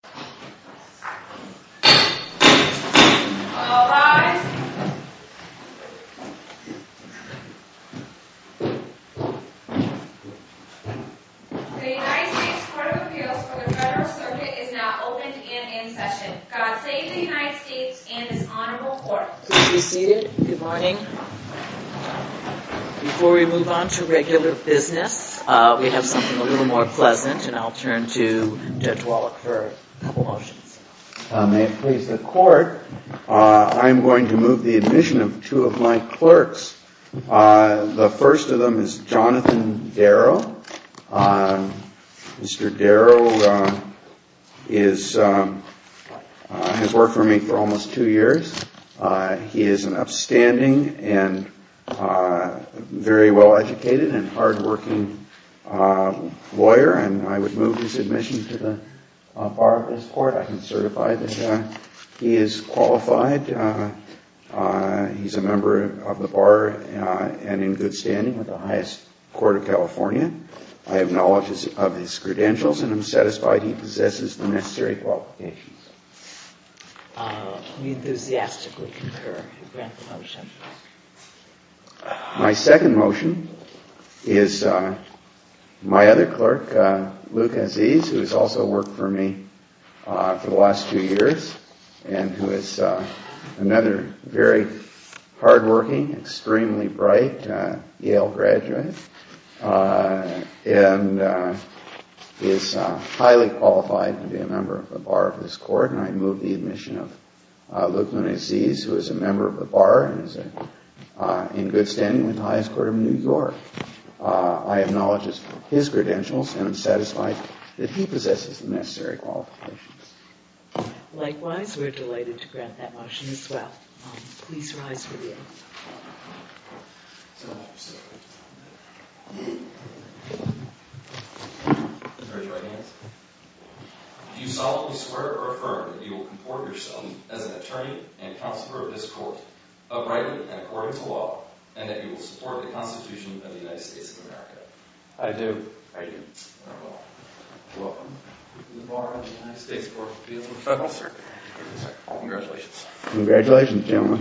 The United States Court of Appeals for the Federal Circuit is now open and in session. God save the United States and this honorable court. Please be seated. Good morning. Before we move on to regular business, we have something a little more pleasant and I'll turn to Judge Wallach for a couple of motions. May it please the court, I'm going to move the admission of two of my clerks. The first of them is Jonathan Darrow. Mr. Darrow has worked for me for almost two years. He is an upstanding and very well-educated and hardworking lawyer and I would move his admission to the bar of this court. I can certify that he is qualified. He's a member of the bar and in good standing with the highest court of California. I have knowledge of his credentials and I'm satisfied he possesses the necessary qualifications. We enthusiastically concur. My second motion is my other clerk, Luke Aziz, who has also worked for me for the last two years and who is another very hardworking, extremely bright Yale graduate and is highly qualified to be a member of the bar of this court and I move the admission of Luke Aziz, who is a member of the bar and is in good standing with the highest court of New York. I have knowledge of his credentials and I'm satisfied that he possesses the necessary qualifications. Likewise, we're delighted to grant that motion as well. Please rise for the oath. Do you solemnly swear or affirm that you will comport yourself as an attorney and counselor of this court, uprightly and according to law, and that you will support the Constitution of the United States of America? I do. I do. Welcome to the bar of the United States Court of Appeals. Congratulations. Congratulations, gentlemen.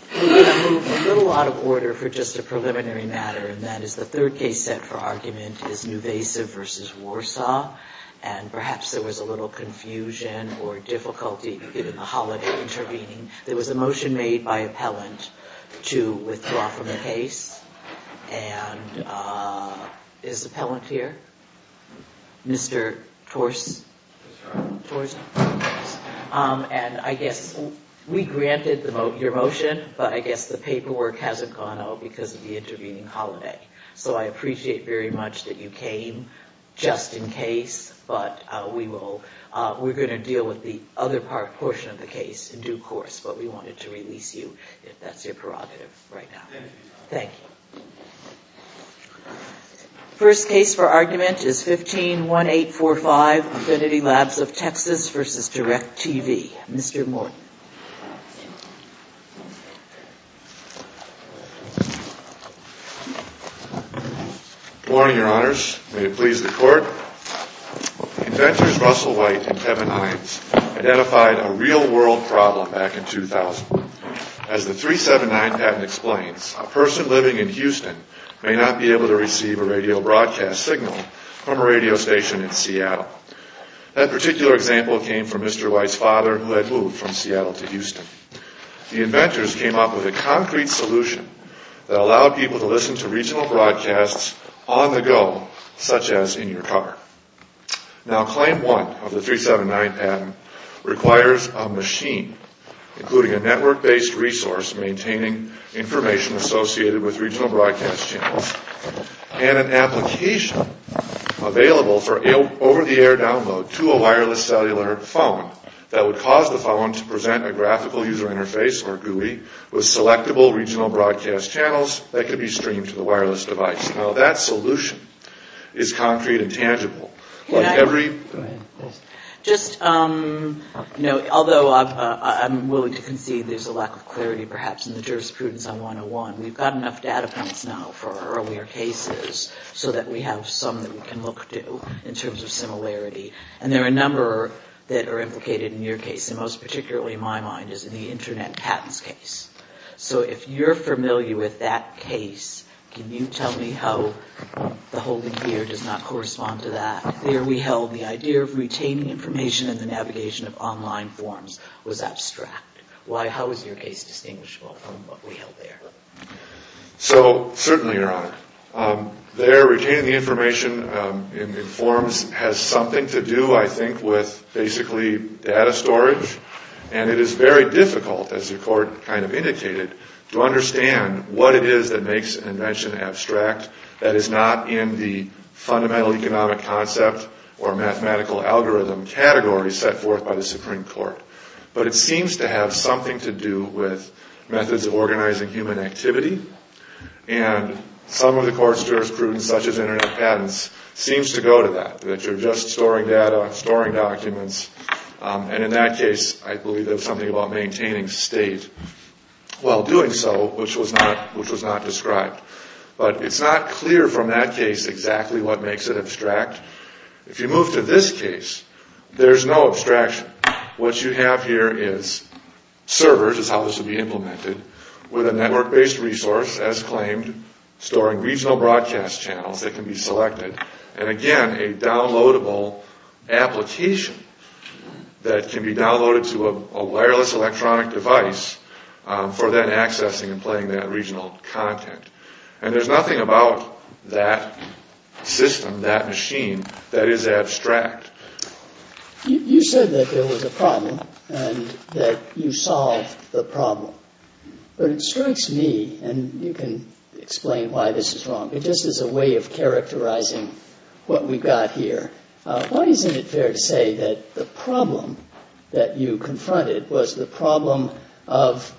We're going to move a little out of order for just a preliminary matter and that is the third case set for argument is Nuvasiv versus Warsaw and perhaps there was a little confusion or difficulty given the holiday intervening. There was a motion made by appellant to withdraw from the case and is the appellant here? Mr. Tors? And I guess we granted your motion, but I guess the paperwork hasn't gone out because of the intervening holiday. So I appreciate very much that you came just in case, but we're going to deal with the other portion of the case in due course, but we wanted to release you if that's your prerogative right now. Thank you. First case for argument is 151845, Affinity Labs of Texas versus DirecTV. Mr. Morton. Good morning, your honors. May it please the court. Inventors Russell White and Kevin Hines identified a real world problem back in 2000. As the 379 patent explains, a person living in Houston may not be able to receive a radio broadcast signal from a radio station in Seattle. That particular example came from Mr. White's father who had moved from Seattle to Houston. The inventors came up with a concrete solution that allowed people to listen to regional broadcasts on the go, such as in your car. Now claim one of the 379 patent requires a machine including a network-based resource maintaining information associated with regional broadcast channels and an application available for over-the-air download to a wireless cellular phone that would cause the phone to present a graphical user interface or GUI with selectable regional broadcast channels that could be streamed to the wireless device. Now that solution is concrete and tangible. Although I'm willing to concede there's a lack of clarity perhaps in the jurisprudence on 101, we've got enough data points now for earlier cases so that we have some that we can look to in terms of similarity. And there are a number that are implicated in your case and most particularly in my mind is in the Internet patents case. So if you're familiar with that case, can you tell me how the holding here does not correspond to that? There we held the idea of retaining information in the navigation of online forms was abstract. How is your case distinguishable from what we held there? So certainly, Your Honor, there retaining the information in forms has something to do, I think, with basically data storage. And it is very difficult, as the Court kind of indicated, to understand what it is that makes an invention abstract that is not in the fundamental economic concept or mathematical algorithm category set forth by the Supreme Court. But it seems to have something to do with methods of organizing human activity. And some of the Court's jurisprudence, such as Internet patents, seems to go to that, that you're just storing data, storing documents. And in that case, I believe there was something about maintaining state while doing so, which was not described. But it's not clear from that case exactly what makes it abstract. If you move to this case, there's no abstraction. What you have here is servers, is how this would be implemented, with a network-based resource, as claimed, storing regional broadcast channels that can be selected. And again, a downloadable application that can be downloaded to a wireless electronic device for then accessing and playing that regional content. And there's nothing about that system, that machine, that is abstract. You said that there was a problem and that you solved the problem. But it strikes me, and you can explain why this is wrong, but just as a way of characterizing what we've got here, why isn't it fair to say that the problem that you confronted was the problem of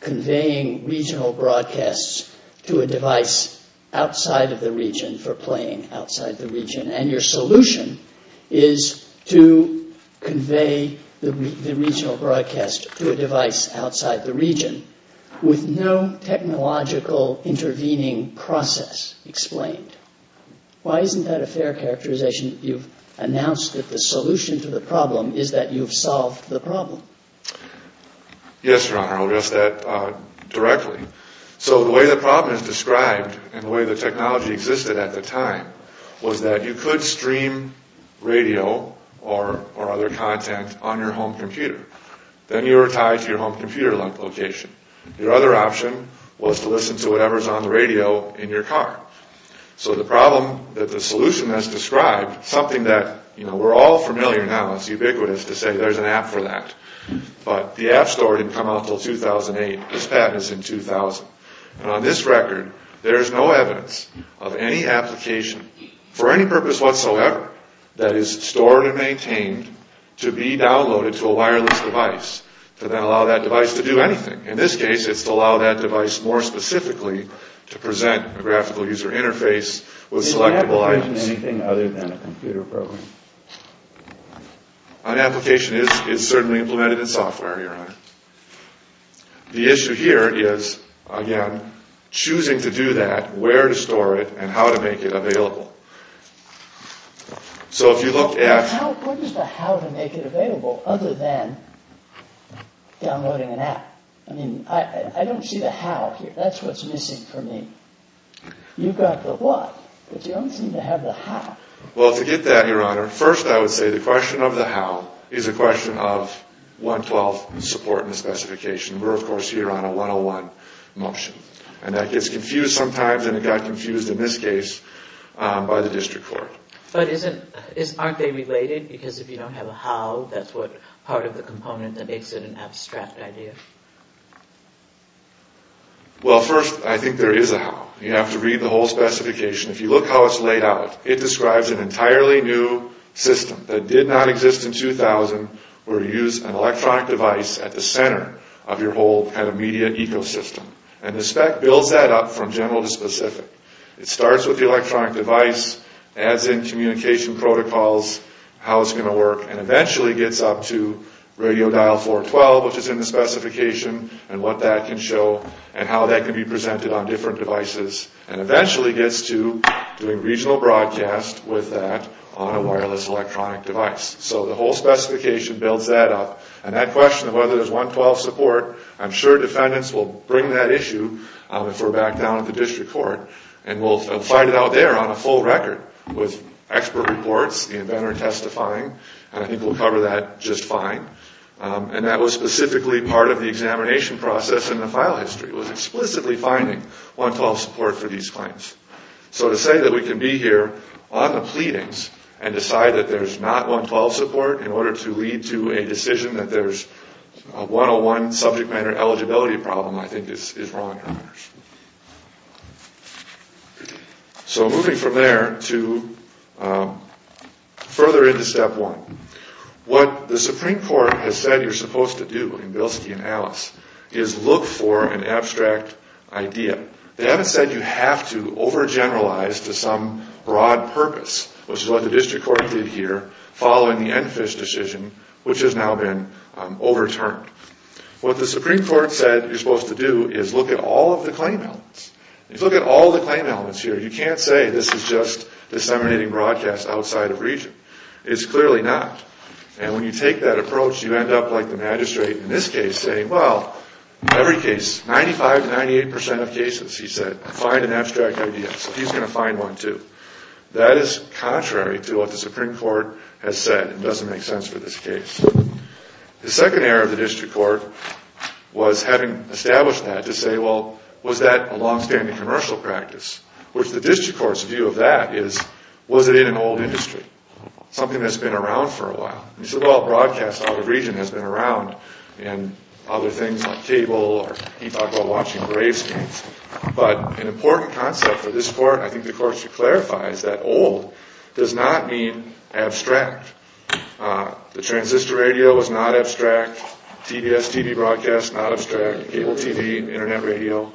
conveying regional broadcasts to a device outside of the region for playing outside the region? And your solution is to convey the regional broadcast to a device outside the region with no technological intervening process explained. Why isn't that a fair characterization that you've announced that the solution to the problem is that you've solved the problem? Yes, Your Honor, I'll address that directly. So the way the problem is described and the way the technology existed at the time was that you could stream radio or other content on your home computer. Then you were tied to your home computer location. Your other option was to listen to whatever's on the radio in your car. So the problem that the solution has described, something that we're all familiar now, it's ubiquitous to say there's an app for that. But the app store didn't come out until 2008. This patent is in 2000. And on this record, there is no evidence of any application for any purpose whatsoever that is stored and maintained to be downloaded to a wireless device to then allow that device to do anything. In this case, it's to allow that device more specifically to present a graphical user interface with selectable items. It's not providing anything other than a computer program. An application is certainly implemented in software, Your Honor. The issue here is, again, choosing to do that, where to store it, and how to make it available. So if you look at... What is the how to make it available other than downloading an app? I mean, I don't see the how here. That's what's missing for me. You've got the what, but you don't seem to have the how. Well, to get that, Your Honor, first I would say the question of the how is a question of 112 support in the specification. We're, of course, here on a 101 motion. And that gets confused sometimes, and it got confused in this case by the district court. But aren't they related? Because if you don't have a how, that's part of the component that makes it an abstract idea. Well, first, I think there is a how. You have to read the whole specification. If you look how it's laid out, it describes an entirely new system that did not exist in 2000, where you use an electronic device at the center of your whole kind of media ecosystem. And the spec builds that up from general to specific. It starts with the electronic device, adds in communication protocols, how it's going to work, and eventually gets up to radio dial 412, which is in the specification, and what that can show and how that can be presented on different devices, and eventually gets to doing regional broadcast with that on a wireless electronic device. So the whole specification builds that up. And that question of whether there's 112 support, I'm sure defendants will bring that issue if we're back down at the district court. And we'll find it out there on a full record with expert reports, the inventor testifying, and I think we'll cover that just fine. And that was specifically part of the examination process in the file history, was explicitly finding 112 support for these claims. So to say that we can be here on the pleadings and decide that there's not 112 support in order to lead to a decision that there's a 101 subject matter eligibility problem I think is wrong. So moving from there to further into step one. What the Supreme Court has said you're supposed to do in Bilski and Alice is look for an abstract idea. They haven't said you have to overgeneralize to some broad purpose, which is what the district court did here following the Enfish decision, which has now been overturned. What the Supreme Court said you're supposed to do is look at all of the claim elements. If you look at all of the claim elements here, you can't say this is just disseminating broadcast outside of region. It's clearly not. And when you take that approach, you end up like the magistrate in this case saying, well, in every case, 95 to 98% of cases, he said, find an abstract idea. So he's going to find one too. That is contrary to what the Supreme Court has said. It doesn't make sense for this case. The second area of the district court was having established that to say, well, was that a longstanding commercial practice? Which the district court's view of that is was it in an old industry, something that's been around for a while? He said, well, broadcast out of region has been around in other things like cable, or he talked about watching gravestones. But an important concept for this court, I think the court should clarify, is that old does not mean abstract. The transistor radio was not abstract. TBS TV broadcast, not abstract. Cable TV, Internet radio,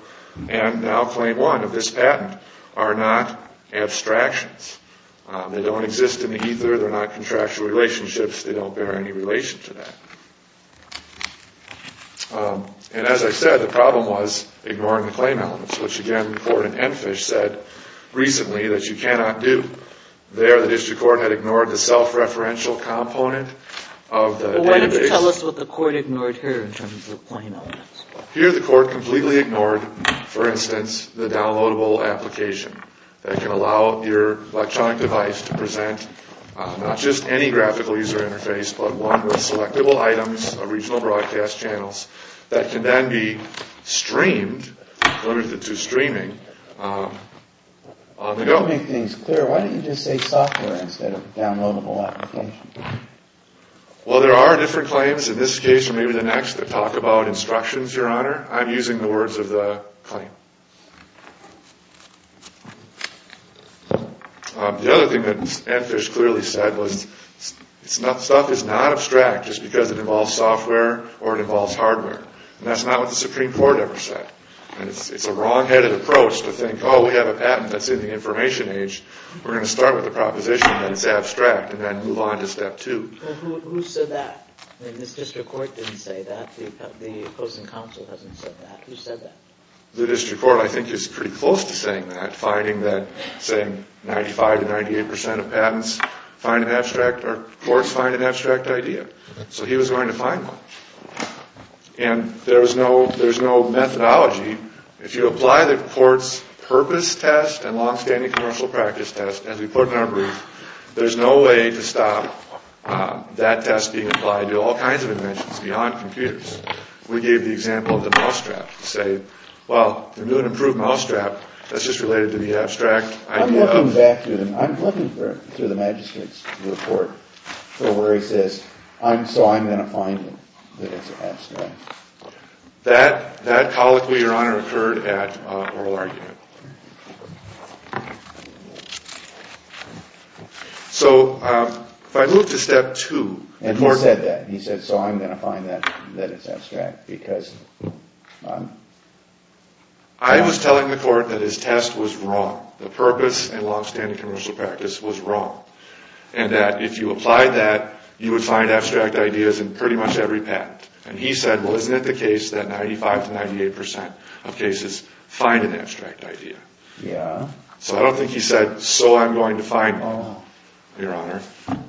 and now claim one of this patent are not abstractions. They don't exist in the ether. They're not contractual relationships. They don't bear any relation to that. And as I said, the problem was ignoring the claim elements, which again the court in Enfish said recently that you cannot do. There the district court had ignored the self-referential component of the database. Well, why don't you tell us what the court ignored here in terms of the claim elements? Here the court completely ignored, for instance, the downloadable application that can allow your electronic device to present not just any graphical user interface, but one with selectable items of regional broadcast channels that can then be streamed, limited to streaming, on the go. You don't make things clear. Why don't you just say software instead of downloadable application? Well, there are different claims in this case or maybe the next that talk about instructions, Your Honor. I'm using the words of the claim. The other thing that Enfish clearly said was stuff is not abstract just because it involves software or it involves hardware. And that's not what the Supreme Court ever said. And it's a wrong-headed approach to think, oh, we have a patent that's in the information age. We're going to start with the proposition that it's abstract and then move on to step two. Well, who said that? This district court didn't say that. The opposing counsel hasn't said that. Who said that? The district court, I think, is pretty close to saying that, saying 95% to 98% of courts find an abstract idea. So he was going to find one. And there's no methodology. If you apply the court's purpose test and long-standing commercial practice test, as we put in our brief, there's no way to stop that test being applied to all kinds of inventions beyond computers. We gave the example of the mousetrap to say, well, if you're going to improve mousetrap, that's just related to the abstract idea. I'm looking back through the magistrate's report where he says, so I'm going to find it that it's abstract. That colloquy, Your Honor, occurred at oral argument. So if I move to step two. And he said that. I was telling the court that his test was wrong. The purpose and long-standing commercial practice was wrong. And that if you apply that, you would find abstract ideas in pretty much every patent. And he said, well, isn't it the case that 95% to 98% of cases find an abstract idea? So I don't think he said, so I'm going to find one, Your Honor.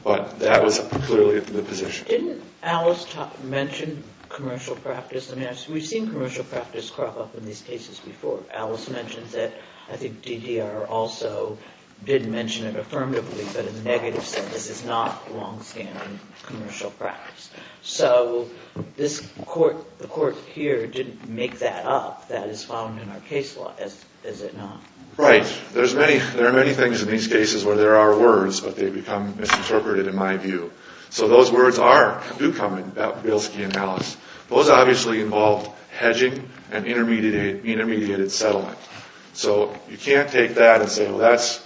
But that was clearly the position. Didn't Alice mention commercial practice? I mean, we've seen commercial practice crop up in these cases before. Alice mentions it. I think DDR also did mention it affirmatively, but in the negative, said this is not long-standing commercial practice. So the court here didn't make that up. That is found in our case law, is it not? Right. There are many things in these cases where there are words, but they become misinterpreted in my view. So those words do come in about Bielski and Alice. Those obviously involved hedging and intermediated settlement. So you can't take that and say, well, that's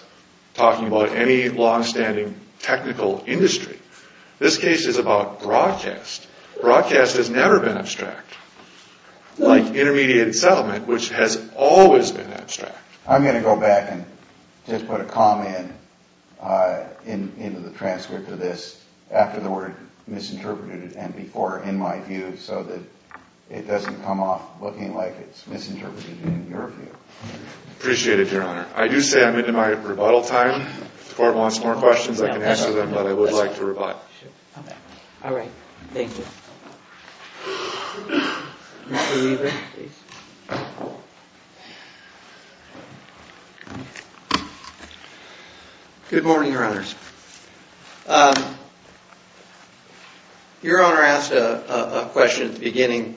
talking about any long-standing technical industry. This case is about broadcast. Broadcast has never been abstract, like intermediated settlement, which has always been abstract. I'm going to go back and just put a comment into the transcript of this after the word misinterpreted and before in my view so that it doesn't come off looking like it's misinterpreted in your view. Appreciate it, Your Honor. I do say I'm into my rebuttal time. If the court wants more questions, I can answer them, but I would like to rebut. All right. Thank you. Mr. Weaver, please. Good morning, Your Honors. Your Honor asked a question at the beginning.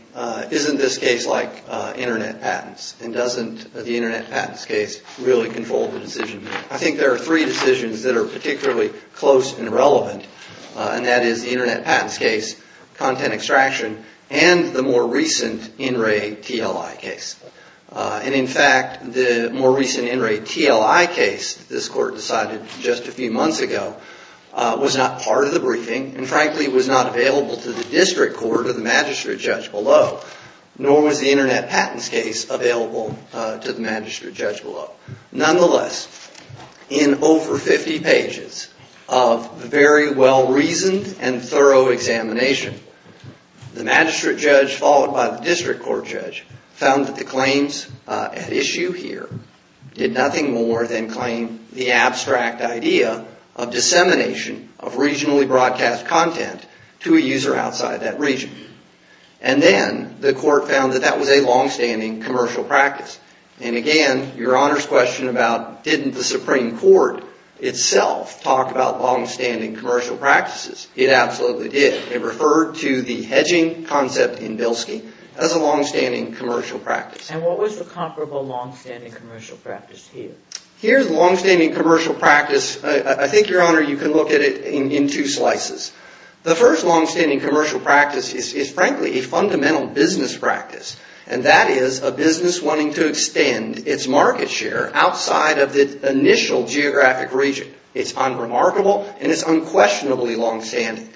Isn't this case like Internet patents? And doesn't the Internet patents case really control the decision? I think there are three decisions that are particularly close and relevant, and that is the Internet patents case, content extraction, and the more recent in-ray TLI case. And in fact, the more recent in-ray TLI case this court decided just a few months ago was not part of the briefing and frankly was not available to the district court or the magistrate judge below, nor was the Internet patents case available to the magistrate judge below. Nonetheless, in over 50 pages of very well-reasoned and thorough examination, the magistrate judge followed by the district court judge found that the claims at issue here did nothing more than claim the abstract idea of dissemination of regionally broadcast content to a user outside that region. And then the court found that that was a longstanding commercial practice. And again, Your Honor's question about didn't the Supreme Court itself talk about longstanding commercial practices? It absolutely did. It referred to the hedging concept in Bilski as a longstanding commercial practice. And what was the comparable longstanding commercial practice here? Here's a longstanding commercial practice. I think, Your Honor, you can look at it in two slices. The first longstanding commercial practice is frankly a fundamental business practice, and that is a business wanting to extend its market share outside of the initial geographic region. It's unremarkable and it's unquestionably longstanding.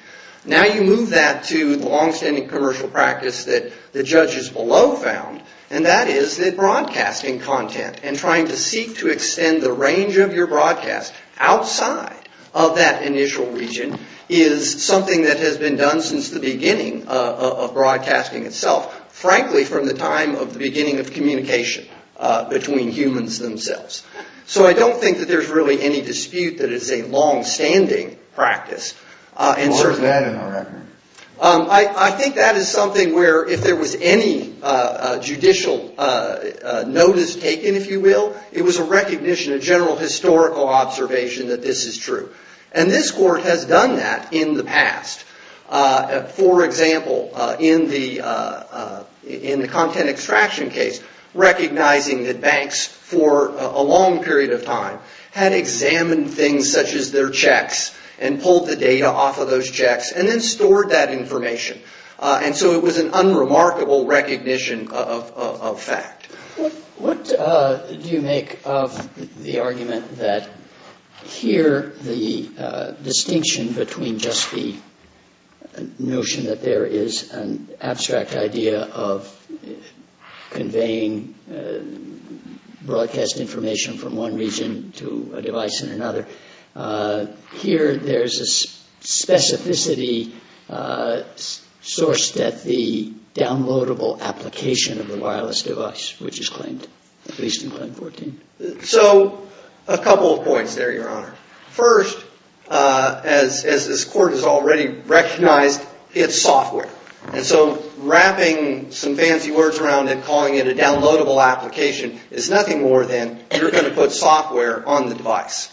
Now you move that to the longstanding commercial practice that the judges below found, and that is that broadcasting content and trying to seek to extend the range of your broadcast outside of that initial region is something that has been done since the beginning of broadcasting itself. Frankly, from the time of the beginning of communication between humans themselves. So I don't think that there's really any dispute that it's a longstanding practice. What was that in our record? I think that is something where if there was any judicial notice taken, if you will, it was a recognition, a general historical observation that this is true. And this court has done that in the past. For example, in the content extraction case, recognizing that banks for a long period of time had examined things such as their checks and pulled the data off of those checks and then stored that information. And so it was an unremarkable recognition of fact. What do you make of the argument that here the distinction between just the notion that there is an abstract idea of conveying broadcast information from one region to a device in another, here there's a specificity sourced at the downloadable application of the wireless device, which is claimed, at least in Claim 14? So a couple of points there, Your Honor. First, as this court has already recognized, it's software. And so wrapping some fancy words around it, calling it a downloadable application, is nothing more than you're going to put software on the device.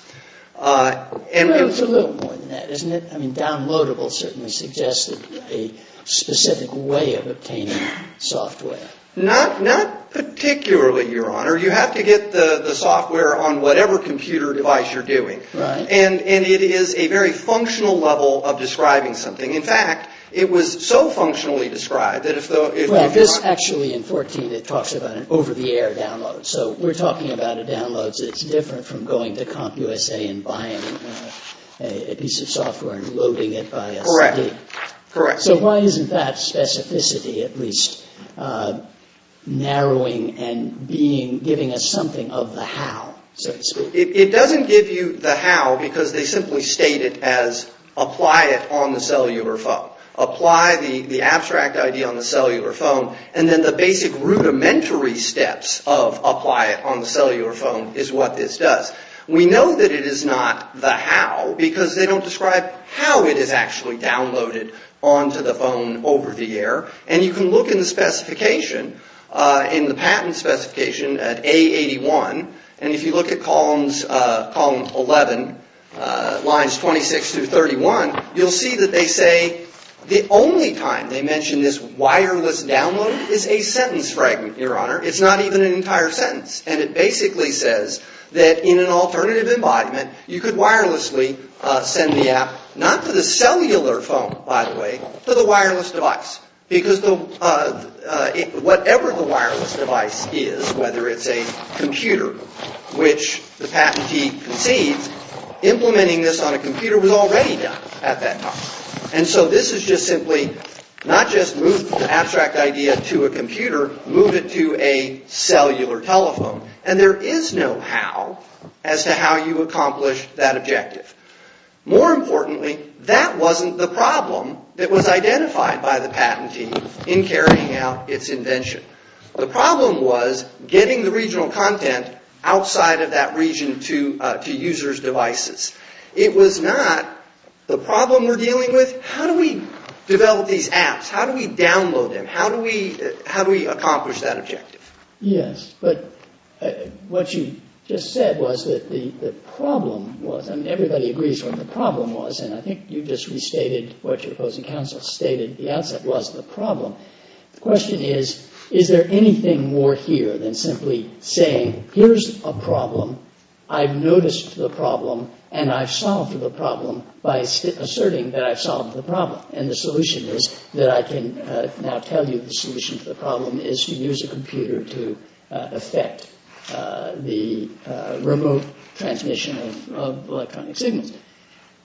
Well, it's a little more than that, isn't it? I mean, downloadable certainly suggests a specific way of obtaining software. Not particularly, Your Honor. You have to get the software on whatever computer device you're doing. Right. And it is a very functional level of describing something. In fact, it was so functionally described that if the – Actually, in 14 it talks about an over-the-air download. So we're talking about a download that's different from going to CompUSA and buying a piece of software and loading it by a CD. Correct. Correct. So why isn't that specificity at least narrowing and being – giving us something of the how, so to speak? It doesn't give you the how because they simply state it as apply it on the cellular phone. Apply the abstract ID on the cellular phone. And then the basic rudimentary steps of apply it on the cellular phone is what this does. We know that it is not the how because they don't describe how it is actually downloaded onto the phone over-the-air. And you can look in the specification, in the patent specification, at A81. And if you look at column 11, lines 26 through 31, you'll see that they say the only time they mention this wireless download is a sentence fragment, Your Honor. It's not even an entire sentence. And it basically says that in an alternative embodiment, you could wirelessly send the app, not to the cellular phone, by the way, to the wireless device. Because whatever the wireless device is, whether it's a computer, which the patentee concedes, implementing this on a computer was already done at that time. And so this is just simply not just move the abstract idea to a computer, move it to a cellular telephone. And there is no how as to how you accomplish that objective. More importantly, that wasn't the problem that was identified by the patentee in carrying out its invention. The problem was getting the regional content outside of that region to users' devices. It was not the problem we're dealing with, how do we develop these apps? How do we download them? How do we accomplish that objective? Yes, but what you just said was that the problem was, I mean, everybody agrees what the problem was. And I think you just restated what your opposing counsel stated at the outset was the problem. The question is, is there anything more here than simply saying, here's a problem, I've noticed the problem, and I've solved the problem by asserting that I've solved the problem. And the solution is that I can now tell you the solution to the problem is to use a computer to affect the remote transmission of electronic signals.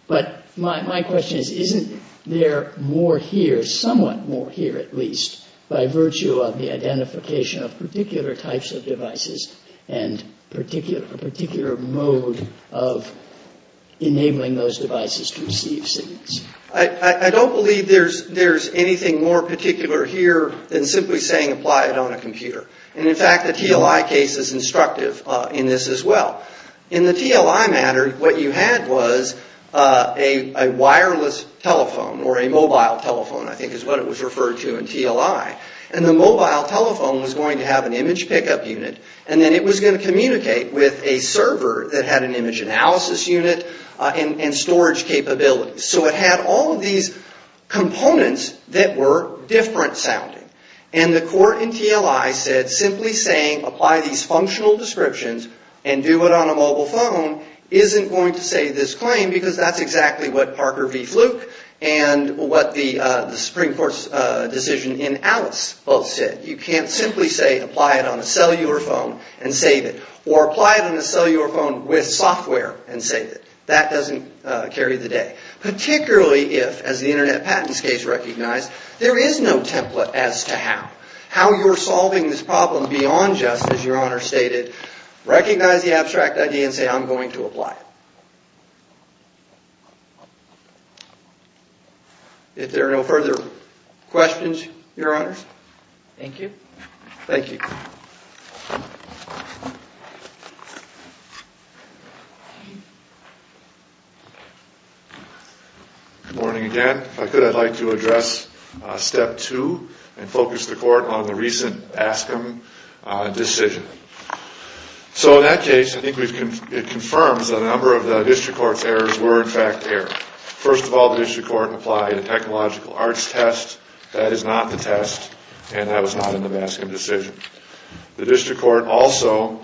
But my question is, isn't there more here, somewhat more here at least, by virtue of the identification of particular types of devices and a particular mode of enabling those devices to receive signals? I don't believe there's anything more particular here than simply saying apply it on a computer. And in fact, the TLI case is instructive in this as well. In the TLI matter, what you had was a wireless telephone, or a mobile telephone I think is what it was referred to in TLI. And the mobile telephone was going to have an image pickup unit, and then it was going to communicate with a server that had an image analysis unit and storage capabilities. So it had all of these components that were different sounding. And the court in TLI said simply saying apply these functional descriptions and do it on a mobile phone isn't going to save this claim because that's exactly what Parker v. Fluke and what the Supreme Court's decision in Alice both said. You can't simply say apply it on a cellular phone and save it. Or apply it on a cellular phone with software and save it. That doesn't carry the day. Particularly if, as the Internet Patents case recognized, there is no template as to how. How you're solving this problem beyond just, as Your Honor stated, recognize the abstract idea and say I'm going to apply it. If there are no further questions, Your Honors? Thank you. Thank you. Good morning again. If I could, I'd like to address step two and focus the court on the recent Ascom decision. So in that case, I think it confirms that a number of the district court's errors were in fact errors. First of all, the district court applied a technological arts test. That is not the test, and that was not in the Ascom decision. The district court also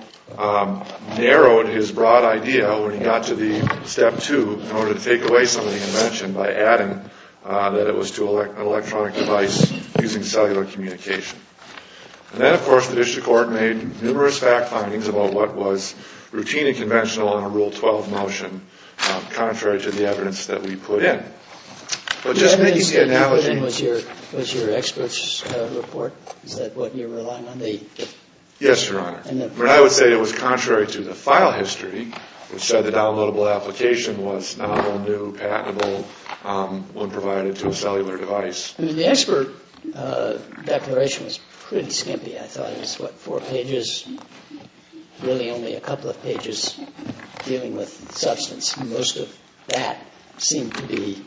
narrowed his broad idea when he got to the step two in order to take away some of the invention by adding that it was to an electronic device using cellular communication. And then, of course, the district court made numerous fact findings about what was routine and conventional on a Rule 12 motion contrary to the evidence that we put in. Was your expert's report? Is that what you're relying on? Yes, Your Honor. But I would say it was contrary to the file history, which said the downloadable application was novel, new, patentable, when provided to a cellular device. The expert declaration was pretty skimpy, I thought. It was what, four pages? Really only a couple of pages dealing with substance. Most of that seemed to be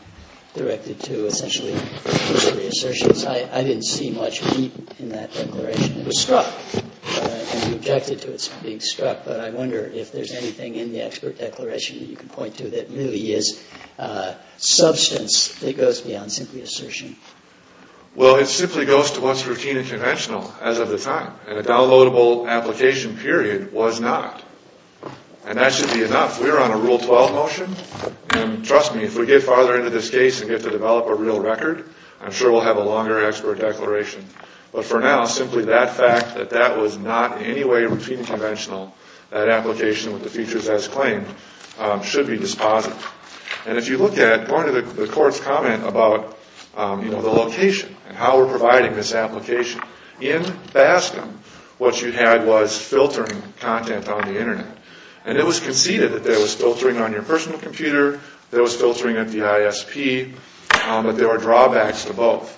directed to essentially just reassertions. I didn't see much deep in that declaration. It was struck, and we objected to it being struck. But I wonder if there's anything in the expert declaration that you can point to that really is substance that goes beyond simply assertion. Well, it simply goes to what's routine and conventional as of the time, and a downloadable application period was not. And that should be enough. We're on a Rule 12 motion, and trust me, if we get farther into this case and get to develop a real record, I'm sure we'll have a longer expert declaration. But for now, simply that fact that that was not in any way routine and conventional, that application with the features as claimed, should be disposed of. And if you look at part of the Court's comment about, you know, the location and how we're providing this application, in Bascom, what you had was filtering content on the Internet. And it was conceded that there was filtering on your personal computer, there was filtering at the ISP, but there were drawbacks to both.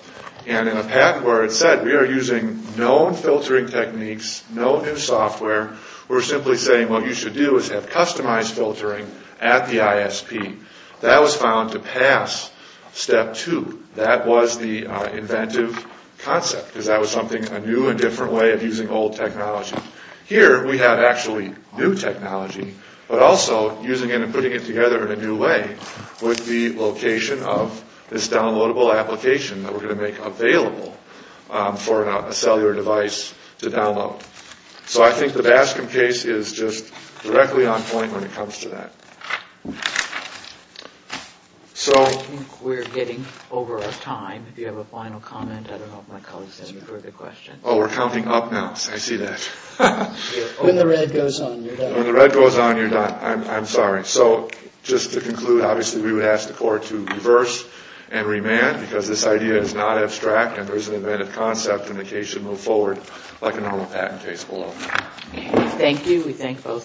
And in a pact where it said we are using known filtering techniques, no new software, we're simply saying what you should do is have customized filtering at the ISP. That was found to pass Step 2. That was the inventive concept, because that was something, a new and different way of using old technology. Here, we have actually new technology, but also using it and putting it together in a new way with the location of this downloadable application that we're going to make available for a cellular device to download. So I think the Bascom case is just directly on point when it comes to that. I think we're getting over our time. If you have a final comment, I don't know if my colleagues have any further questions. Oh, we're counting up now. I see that. When the red goes on, you're done. When the red goes on, you're done. I'm sorry. So just to conclude, obviously, we would ask the Court to reverse and remand, because this idea is not abstract and there is an inventive concept, and the case should move forward like a normal patent case will. Thank you. We thank both of you.